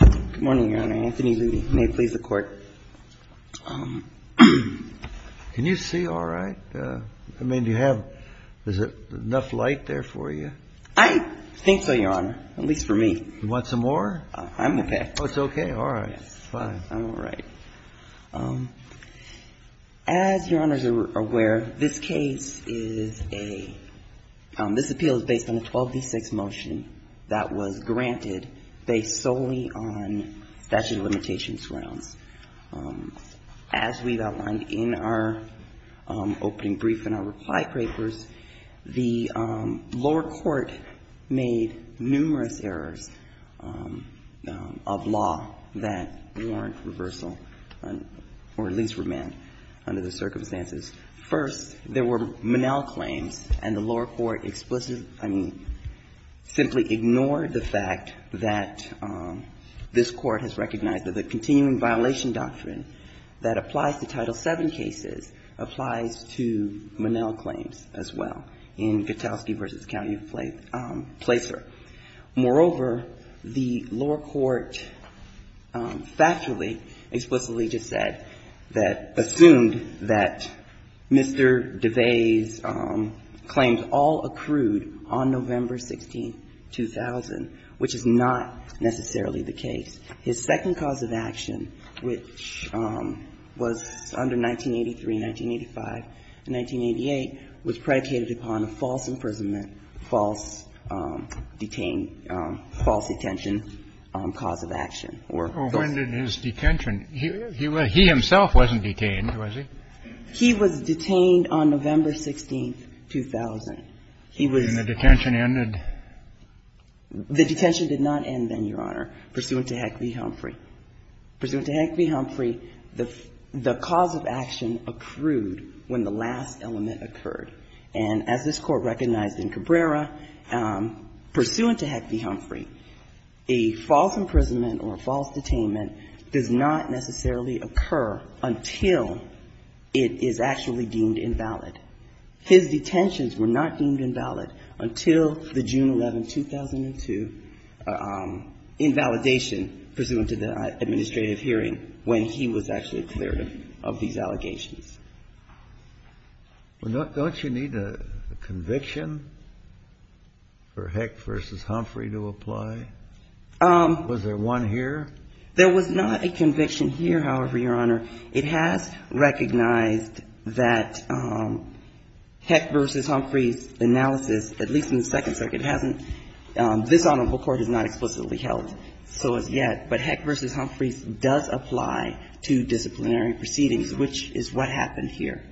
Good morning, Your Honor. Anthony Levy. May it please the Court. Can you see all right? I mean, do you have enough light there for you? I think so, Your Honor, at least for me. You want some more? I'm okay. Oh, it's okay. All right. Fine. As Your Honor is aware, this case is a – this appeal is based on a 12d6 motion that was granted based solely on statute of limitations grounds. As we've outlined in our opening brief and our reply papers, the lower court made numerous errors of law that warrant reversal or at least remand under the circumstances. First, there were Monell claims, and the lower court explicitly – I mean, simply ignored the fact that this Court has recognized that the continuing violation doctrine that applies to Title VII cases applies to Monell claims as well in Gutowski v. County Placer. Moreover, the lower court factually explicitly just said that – assumed that Mr. DeVey's claims all accrued on November 16, 2000, which is not necessarily the case. And the lower court also said that Mr. DeVey's claims all accrued on November 16, 2000, which is not necessarily the case. His second cause of action, which was under 1983, 1985, and 1988, was predicated upon a false imprisonment, false detain – false detention cause of action. Or it was – Kennedy, when did his detention – he himself wasn't detained, was he? He was detained on November 16, 2000. He was – And the detention ended? The detention did not end then, Your Honor, pursuant to Heck v. Humphrey. Pursuant to Heck v. Humphrey, the cause of action accrued when the last element occurred. And as this Court recognized in Cabrera, pursuant to Heck v. Humphrey, a false imprisonment or a false detainment does not necessarily occur until it is actually deemed invalid. His detentions were not deemed invalid until the June 11, 2002, invalidation pursuant to the administrative hearing when he was actually cleared of these allegations. Well, don't you need a conviction for Heck v. Humphrey to apply? Was there one here? There was not a conviction here, however, Your Honor. It has recognized that Heck v. Humphrey's analysis, at least in the Second Circuit, hasn't – this Honorable Court has not explicitly held so as yet. But Heck v. Humphrey does apply to disciplinary proceedings, which is what happened here.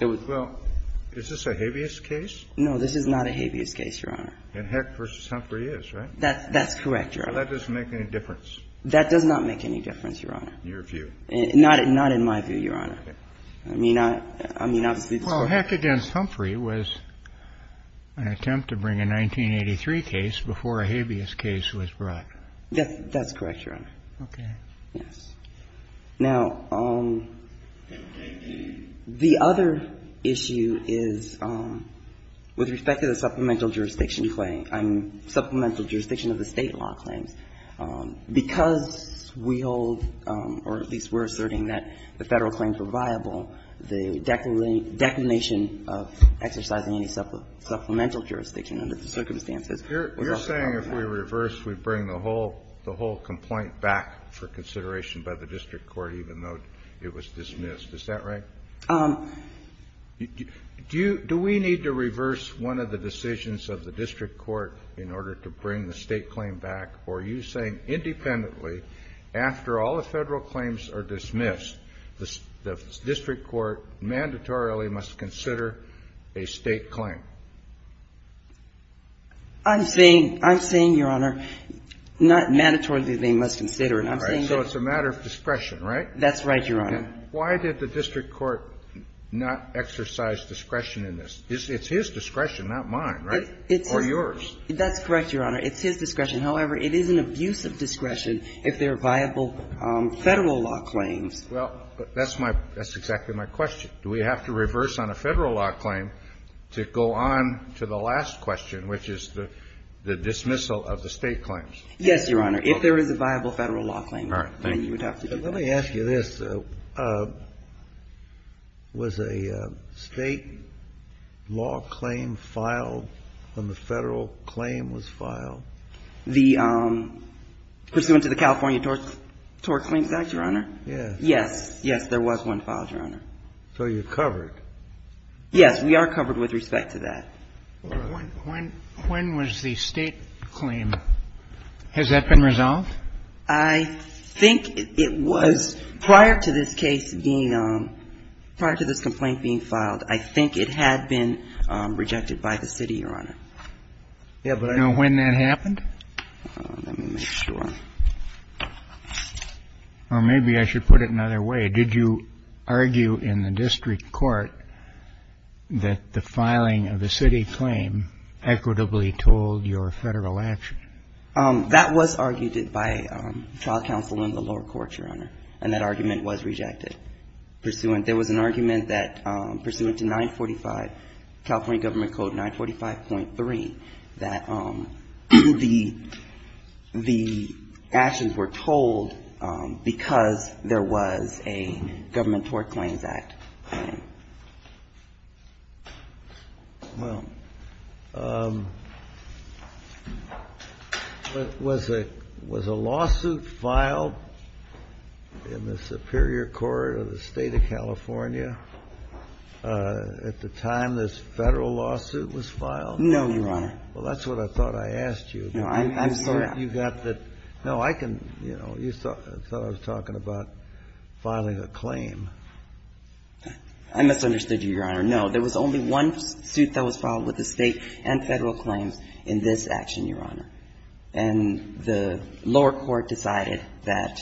It was – Well, is this a habeas case? No, this is not a habeas case, Your Honor. And Heck v. Humphrey is, right? That's correct, Your Honor. Well, that doesn't make any difference. That does not make any difference, Your Honor. In your view. Not in my view, Your Honor. Okay. I mean, obviously – Well, Heck v. Humphrey was an attempt to bring a 1983 case before a habeas case was brought. That's correct, Your Honor. Okay. Yes. Now, the other issue is with respect to the supplemental jurisdiction claim. I mean, supplemental jurisdiction of the State law claims. Because we hold, or at least we're asserting that the Federal claims were viable, was also held. You're saying if we reverse, we bring the whole complaint back for consideration by the district court, even though it was dismissed. Is that right? Do we need to reverse one of the decisions of the district court in order to bring the State claim back? Or are you saying independently, after all the Federal claims are dismissed, the district court mandatorily must consider a State claim? I'm saying, Your Honor, not mandatorily they must consider it. I'm saying that – All right. So it's a matter of discretion, right? That's right, Your Honor. Why did the district court not exercise discretion in this? It's his discretion, not mine, right? Or yours. That's correct, Your Honor. It's his discretion. However, it is an abuse of discretion if there are viable Federal law claims. Well, that's my – that's exactly my question. Do we have to reverse on a Federal law claim to go on to the last question, which is the dismissal of the State claims? Yes, Your Honor, if there is a viable Federal law claim. All right. Thank you. Let me ask you this. Was a State law claim filed when the Federal claim was filed? The – pursuant to the California Tort Claims Act, Your Honor? Yes. Yes, there was one filed, Your Honor. So you're covered? Yes, we are covered with respect to that. All right. When was the State claim – has that been resolved? I think it was prior to this case being – prior to this complaint being filed. I think it had been rejected by the City, Your Honor. Yeah, but I don't know when that happened. Let me make sure. Or maybe I should put it another way. Did you argue in the district court that the filing of the City claim equitably told your Federal action? That was argued by trial counsel in the lower court, Your Honor, and that argument was rejected. Pursuant – there was an argument that pursuant to 945, California Government Code 945.3, that the actions were told because there was a Government Tort Claims Act. Well, was a lawsuit filed in the superior court of the State of California at the time this Federal lawsuit was filed? No, Your Honor. Well, that's what I thought I asked you. No, I'm sorry. You got the – no, I can – you know, you thought I was talking about filing a claim. I misunderstood you, Your Honor. No, there was only one suit that was filed with the State and Federal claims in this action, Your Honor. And the lower court decided that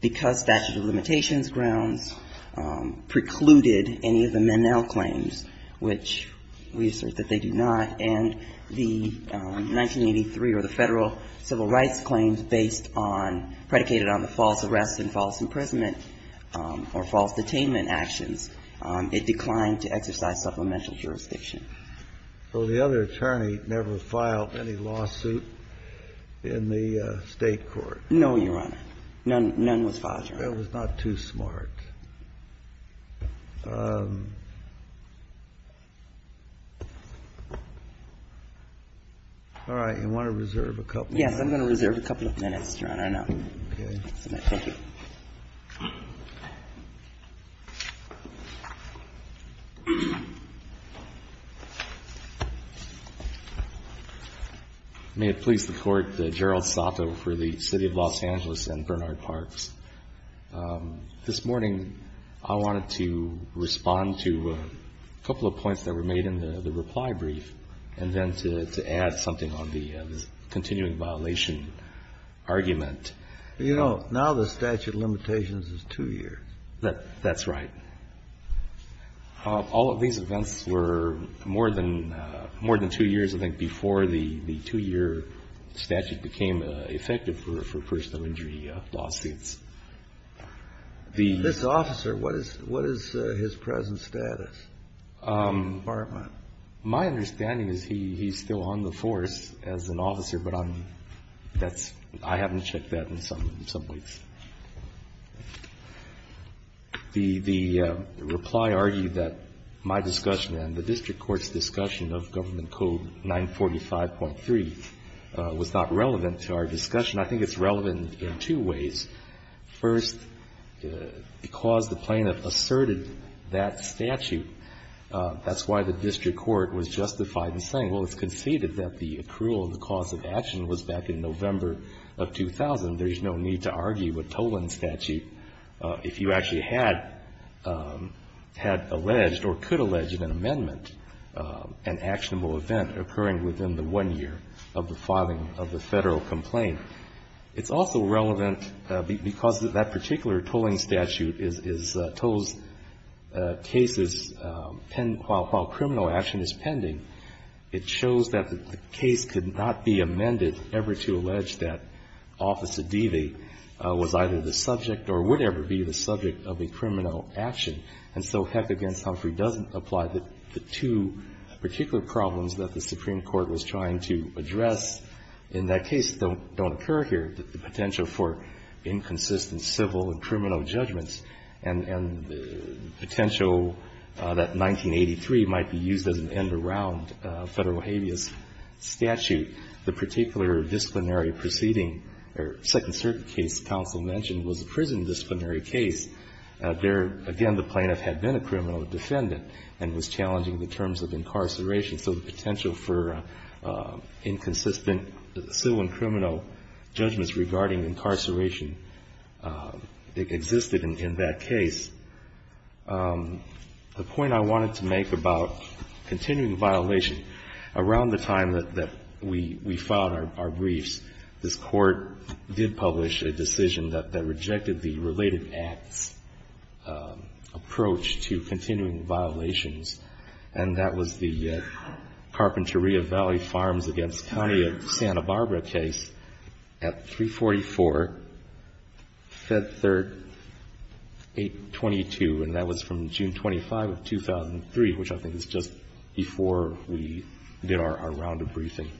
because statute of limitations grounds precluded any of the Menel claims, which we assert that they do not, and the 1983 or the Federal civil rights claims based on – predicated on the false arrest and false imprisonment or false detainment actions, it declined to exercise supplemental jurisdiction. So the other attorney never filed any lawsuit in the State court? None was filed, Your Honor. That was not too smart. All right. You want to reserve a couple of minutes? Yes, I'm going to reserve a couple of minutes, Your Honor, now. Okay. Thank you. May it please the Court, Gerald Sato for the City of Los Angeles and Bernard Parks. This morning I wanted to respond to a couple of points that were made in the reply brief and then to add something on the continuing violation argument. You know, now the statute of limitations is two years. That's right. All of these events were more than two years, I think, before the two-year statute became effective for personal injury lawsuits. This officer, what is his present status? My understanding is he's still on the force as an officer, but I'm – that's I haven't checked that in some weeks. The reply argued that my discussion and the district court's discussion of Government Code 945.3 was not relevant to our discussion. I think it's relevant in two ways. First, because the plaintiff asserted that statute, that's why the district court was justified in saying, well, it's conceded that the accrual and the cause of action was back in November of 2000. There's no need to argue a tolling statute if you actually had alleged or could allege an amendment, an actionable event occurring within the one year of the filing of the Federal complaint. It's also relevant because that particular tolling statute is tolls cases pending while criminal action is pending. It shows that the case could not be amended ever to allege that Office Adivi was either the subject or would ever be the subject of a criminal action. And so heck against Humphrey doesn't apply the two particular problems that the Supreme Court has in this case. They don't occur here. The potential for inconsistent civil and criminal judgments and the potential that 1983 might be used as an end around Federal habeas statute, the particular disciplinary proceeding or Second Circuit case counsel mentioned was a prison disciplinary case. There, again, the plaintiff had been a criminal defendant and was challenging the terms of incarceration, so the potential for inconsistent civil and criminal judgments regarding incarceration existed in that case. The point I wanted to make about continuing violation, around the time that we filed our briefs, this Court did publish a decision that rejected the related acts approach to continuing violations, and that was the Carpinteria Valley Farms against County of Santa Barbara case at 344 Fed Third 822, and that was from June 25 of 2003, which I think is just before we did our round of briefing.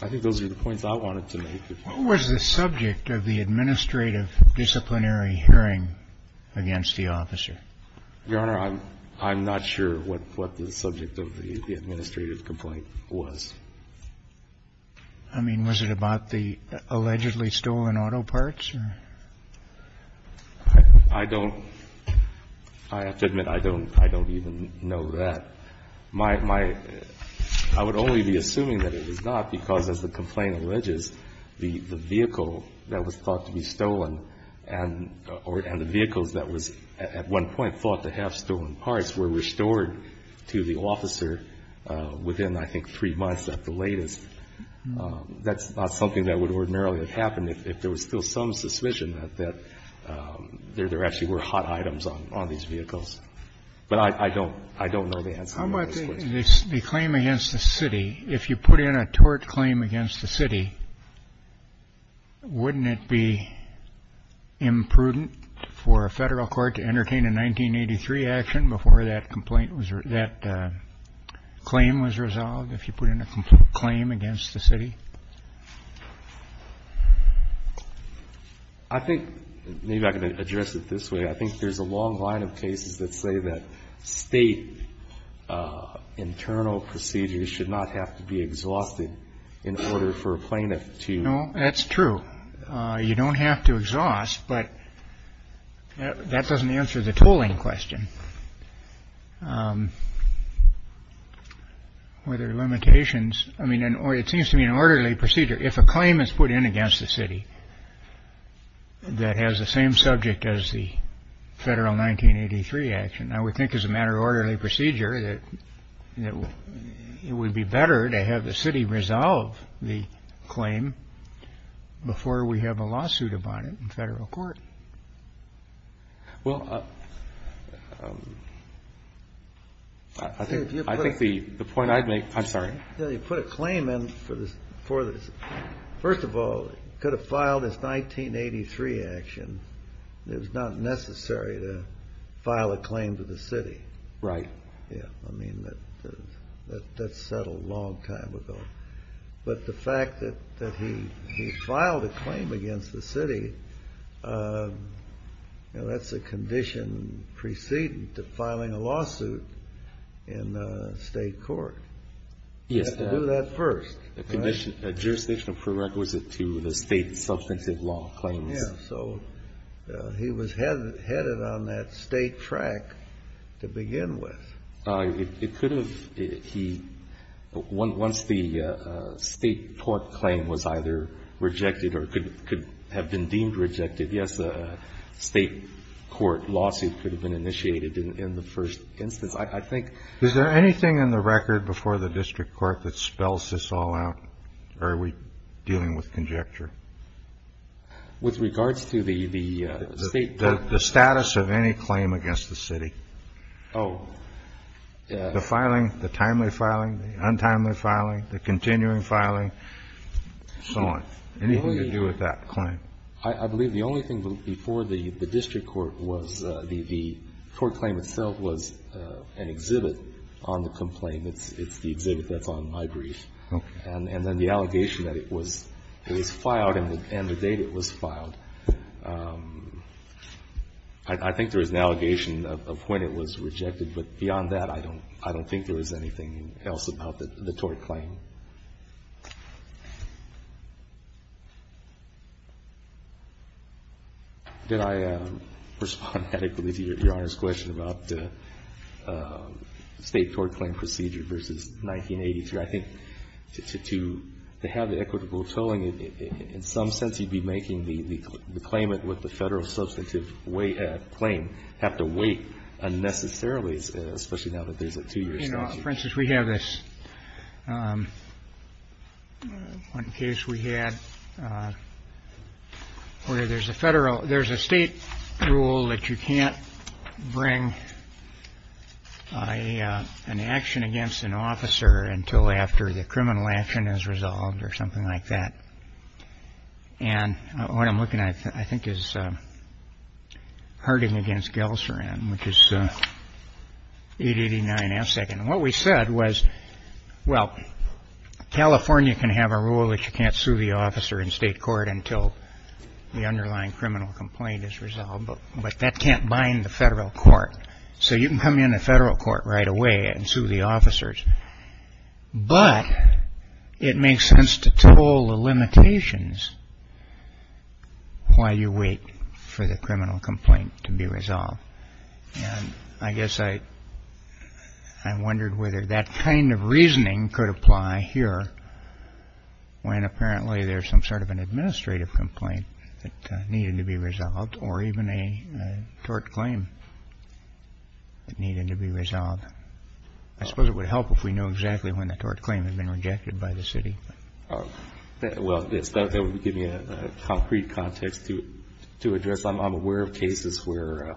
I think those are the points I wanted to make. What was the subject of the administrative disciplinary hearing against the officer? Your Honor, I'm not sure what the subject of the administrative complaint was. I mean, was it about the allegedly stolen auto parts? I don't – I have to admit, I don't even know that. My – I would only be assuming that it was not, because as the complaint alleges, the vehicle that was thought to be stolen and the vehicles that was at one point thought to have stolen parts were restored to the officer within, I think, 3 months at the latest. That's not something that would ordinarily have happened if there was still some suspicion that there actually were hot items on these vehicles. But I don't – I don't know the answer to this question. How about the claim against the city? If you put in a tort claim against the city, wouldn't it be imprudent for a Federal court to entertain a 1983 action before that complaint was – that claim was resolved if you put in a complete claim against the city? I think – maybe I can address it this way. I think there's a long line of cases that say that State internal procedures should not have to be exhausted in order for a plaintiff to – No, that's true. You don't have to exhaust, but that doesn't answer the tooling question. Were there limitations – I mean, it seems to me an orderly procedure, if a claim is put in against the city that has the same subject as the Federal 1983 action, I would think as a matter of orderly procedure that it would be better to have the city resolve the claim before we have a lawsuit about it in Federal court. Well, I think the point I'd make – I'm sorry. You put a claim in for the – first of all, you could have filed this 1983 action. It was not necessary to file a claim to the city. Right. Yeah, I mean, that's settled a long time ago. But the fact that he filed a claim against the city, that's a condition preceding to filing a lawsuit in State court. You have to do that first. A jurisdictional prerequisite to the State substantive law claims. Yeah. So he was headed on that State track to begin with. It could have. Once the State court claim was either rejected or could have been deemed rejected, yes, a State court lawsuit could have been initiated in the first instance. I think – Is there anything in the record before the district court that spells this all out? Or are we dealing with conjecture? With regards to the State – The status of any claim against the city. Oh, yeah. The filing, the timely filing, the untimely filing, the continuing filing, so on. Anything to do with that claim. I believe the only thing before the district court was the tort claim itself was an exhibit on the complaint. It's the exhibit that's on my brief. Okay. And then the allegation that it was filed and the date it was filed. I think there was an allegation of when it was rejected. But beyond that, I don't think there was anything else about the tort claim. Did I respond adequately to Your Honor's question about State tort claim procedure versus 1982? I think to have the equitable tolling, in some sense you'd be making the claimant with the Federal substantive claim have to wait unnecessarily, especially now that there's a 2-year statute. For instance, we have this one case we had where there's a Federal – there's a State rule that you can't bring an action against an officer until after the criminal action is resolved or something like that. And what I'm looking at, I think, is Harding v. Gelserand, which is 889 F. And what we said was, well, California can have a rule that you can't sue the officer in State court until the underlying criminal complaint is resolved. But that can't bind the Federal court. So you can come into Federal court right away and sue the officers. But it makes sense to toll the limitations while you wait for the criminal complaint to be resolved. And I guess I wondered whether that kind of reasoning could apply here when apparently there's some sort of an administrative complaint that needed to be resolved or even a tort claim that needed to be resolved. I suppose it would help if we knew exactly when the tort claim had been rejected by the city. Well, that would give me a concrete context to address. I'm aware of cases where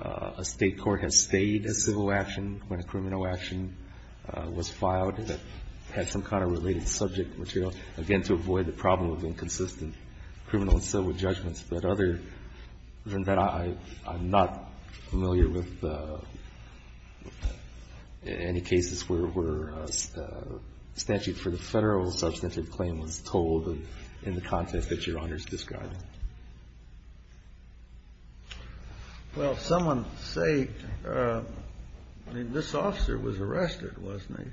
a State court has stayed a civil action when a criminal action was filed that had some kind of related subject material, again, to avoid the problem of inconsistent criminal and civil judgments. But other than that, I'm not familiar with any cases where a statute for the Federal substantive claim was told in the context that Your Honor is describing. Well, someone say, I mean, this officer was arrested, wasn't he?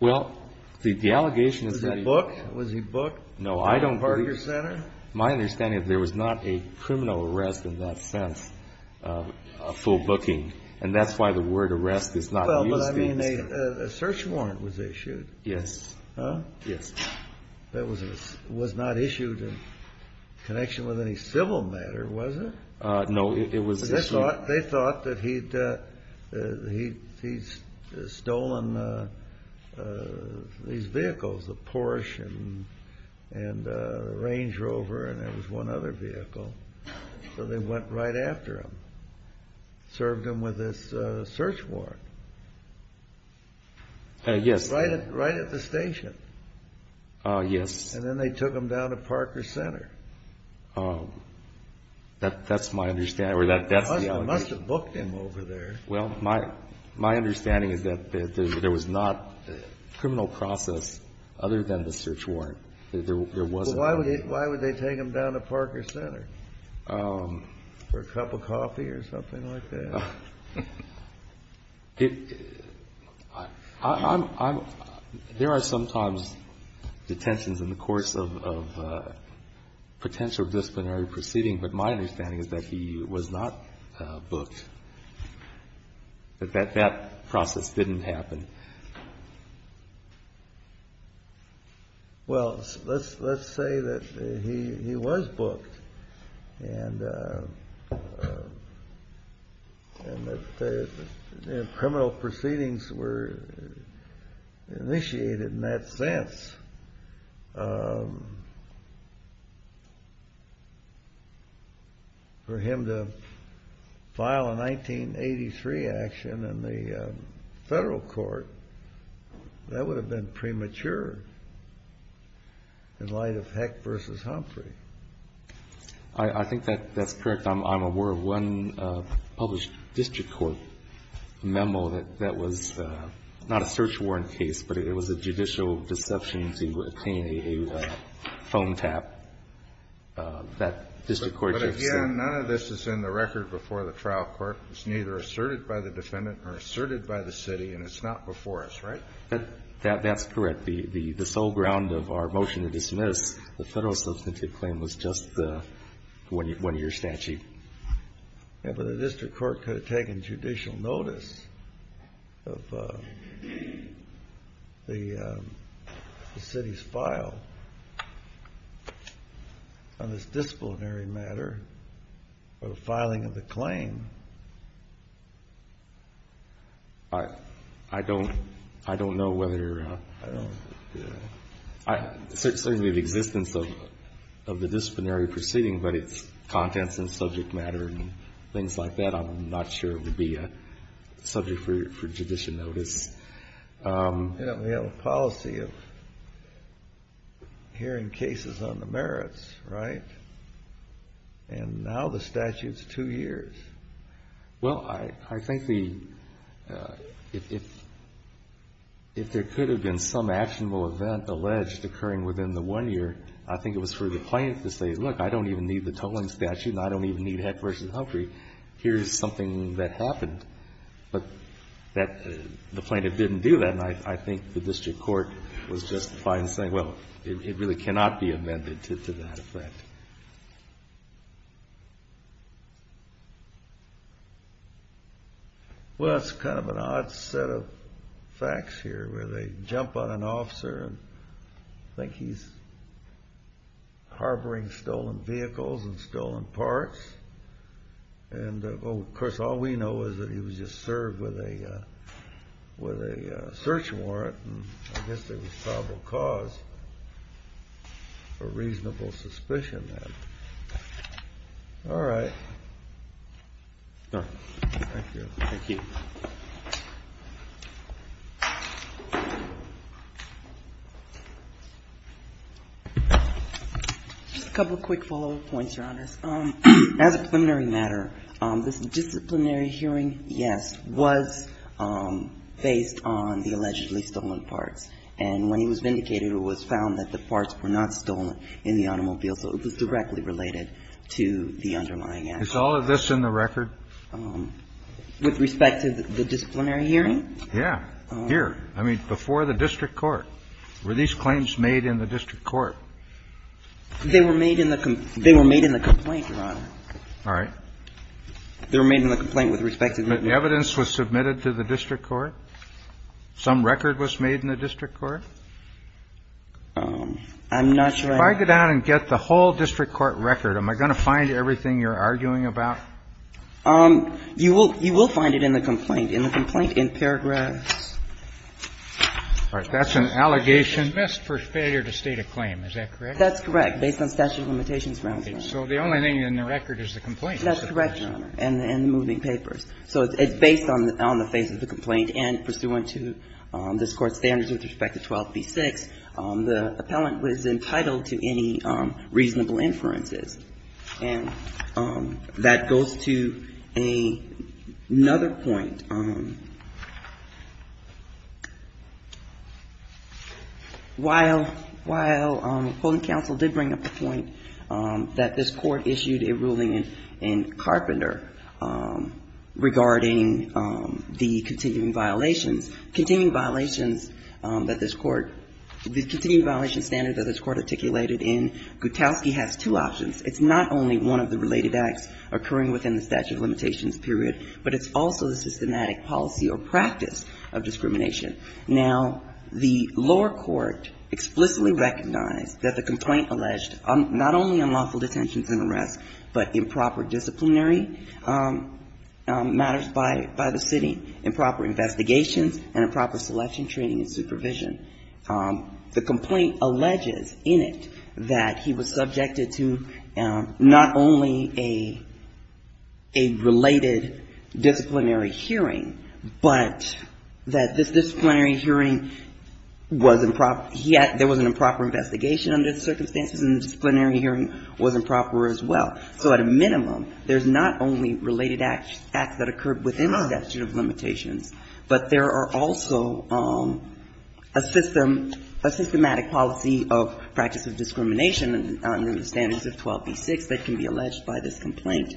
Well, the allegation is that he was. Was he booked? No, I don't believe. At the Parker Center? My understanding is there was not a criminal arrest in that sense, a full booking. And that's why the word arrest is not used. Well, but I mean, a search warrant was issued. Yes. Huh? Yes. That was not issued in connection with any civil matter, was it? No, it was. They thought that he'd stolen these vehicles, the Porsche and the Range Rover, and there was one other vehicle. So they went right after him, served him with this search warrant. Yes. Right at the station. Yes. And then they took him down to Parker Center. That's my understanding, or that's the allegation. They must have booked him over there. Well, my understanding is that there was not a criminal process other than the search warrant. There wasn't. Well, why would they take him down to Parker Center for a cup of coffee or something like that? There are sometimes detentions in the course of potential disciplinary proceeding, but my understanding is that he was not booked, that that process didn't happen. Well, let's say that he was booked and that criminal proceedings were initiated in that sense for him to file a 1983 action in the federal court, that would have been premature in light of Heck v. Humphrey. I think that's correct. I'm aware of one published district court memo that was not a search warrant case, but it was a judicial deception to obtain a phone tap that district court just said. But again, none of this is in the record before the trial court. It's neither asserted by the defendant nor asserted by the city, and it's not before us, right? That's correct. The sole ground of our motion to dismiss the federal substantive claim was just one of your statute. Yeah, but the district court could have taken judicial notice of the city's file on this disciplinary matter of filing of the claim. I don't know whether the existence of the disciplinary proceeding, but its contents and subject matter and things like that, I'm not sure it would be a subject for judicial notice. You know, we have a policy of hearing cases on the merits, right? And now the statute's two years. Well, I think if there could have been some actionable event alleged occurring within the one year, I think it was for the plaintiff to say, look, I don't even need the tolling statute and I don't even need Heck v. Humphrey. Here's something that happened. But the plaintiff didn't do that, and I think the district court was justified in saying, well, it really cannot be amended to that effect. Well, it's kind of an odd set of facts here, where they jump on an officer and think he's harboring stolen vehicles and stolen parts. And, of course, all we know is that he was just served with a search warrant, and I guess there was probable cause for reasonable suspicion then. All right. Thank you. Thank you. Just a couple of quick follow-up points, Your Honors. First of all, I think it's important to understand that the plaintiff's claim that the vehicle was stolen was based on the allegedly stolen parts. And when he was vindicated, it was found that the parts were not stolen in the automobile, so it was directly related to the underlying act. Is all of this in the record? With respect to the disciplinary hearing? Yeah. Here. I mean, before the district court. Were these claims made in the district court? They were made in the complaint, Your Honor. All right. They were made in the complaint with respect to the district court. But evidence was submitted to the district court? Some record was made in the district court? I'm not sure I can ---- If I go down and get the whole district court record, am I going to find everything you're arguing about? You will find it in the complaint, in the complaint in paragraphs. All right. That's an allegation missed for failure to state a claim. Is that correct? That's correct, based on statute of limitations grounds. So the only thing in the record is the complaint. That's correct, Your Honor, and the moving papers. So it's based on the face of the complaint and pursuant to this Court's standards with respect to 12b-6, the appellant was entitled to any reasonable inferences. And that goes to another point. While holding counsel did bring up the point that this Court issued a ruling in Carpenter regarding the continuing violations, continuing violations that this Court ---- the continuing It's not only one of the related acts occurring within the statute of limitations period, but it's also the systematic policy or practice of discrimination. Now, the lower court explicitly recognized that the complaint alleged not only unlawful detentions and arrests, but improper disciplinary matters by the city, improper investigations and improper selection, training and supervision. The complaint alleges in it that he was subjected to not only a related disciplinary hearing, but that this disciplinary hearing was improper. There was an improper investigation under the circumstances and the disciplinary hearing was improper as well. So at a minimum, there's not only related acts that occurred within the statute of limitations, but a systematic policy of practice of discrimination under the standards of 12b-6 that can be alleged by this complaint.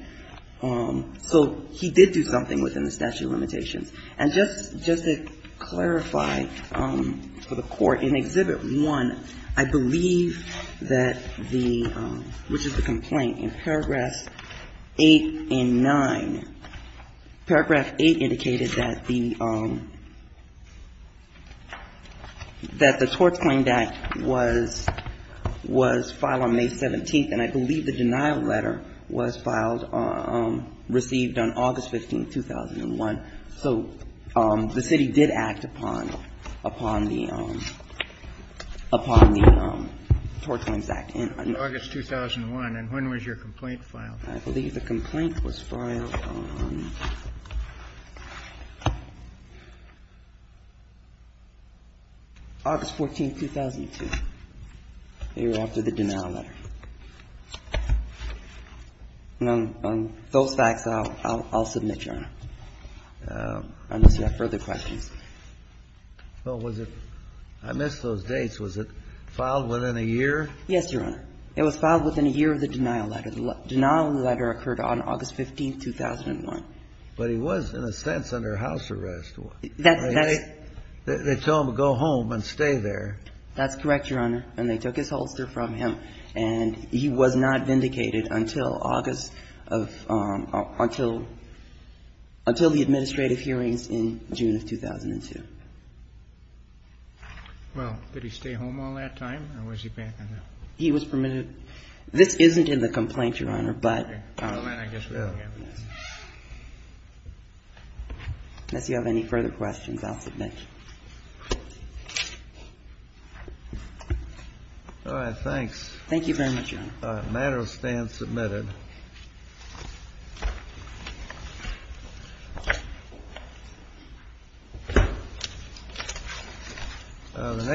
So he did do something within the statute of limitations. And just to clarify for the Court, in Exhibit 1, I believe that the ---- which is the complaint in paragraphs 8 and 9. Paragraph 8 indicated that the ---- that the torts claimed act was ---- was filed on May 17th, and I believe the denial letter was filed on ---- received on August 15, 2001. So the city did act upon the ---- upon the torts claims act in August 2001. And when was your complaint filed? I believe the complaint was filed on August 14, 2002. They were after the denial letter. And on those facts, I'll submit, Your Honor, unless you have further questions. Well, was it ---- I missed those dates. Was it filed within a year? Yes, Your Honor. It was filed within a year of the denial letter. The denial letter occurred on August 15, 2001. But he was, in a sense, under house arrest. That's ---- They tell him to go home and stay there. That's correct, Your Honor. And they took his holster from him. And he was not vindicated until August of ---- until the administrative hearings in June of 2002. Well, did he stay home all that time, or was he banned from that? He was permitted. This isn't in the complaint, Your Honor, but ---- Well, then I guess we don't have this. Unless you have any further questions, I'll submit. All right. Thanks. Thank you very much, Your Honor. The matter stands submitted. Thank you, Your Honor.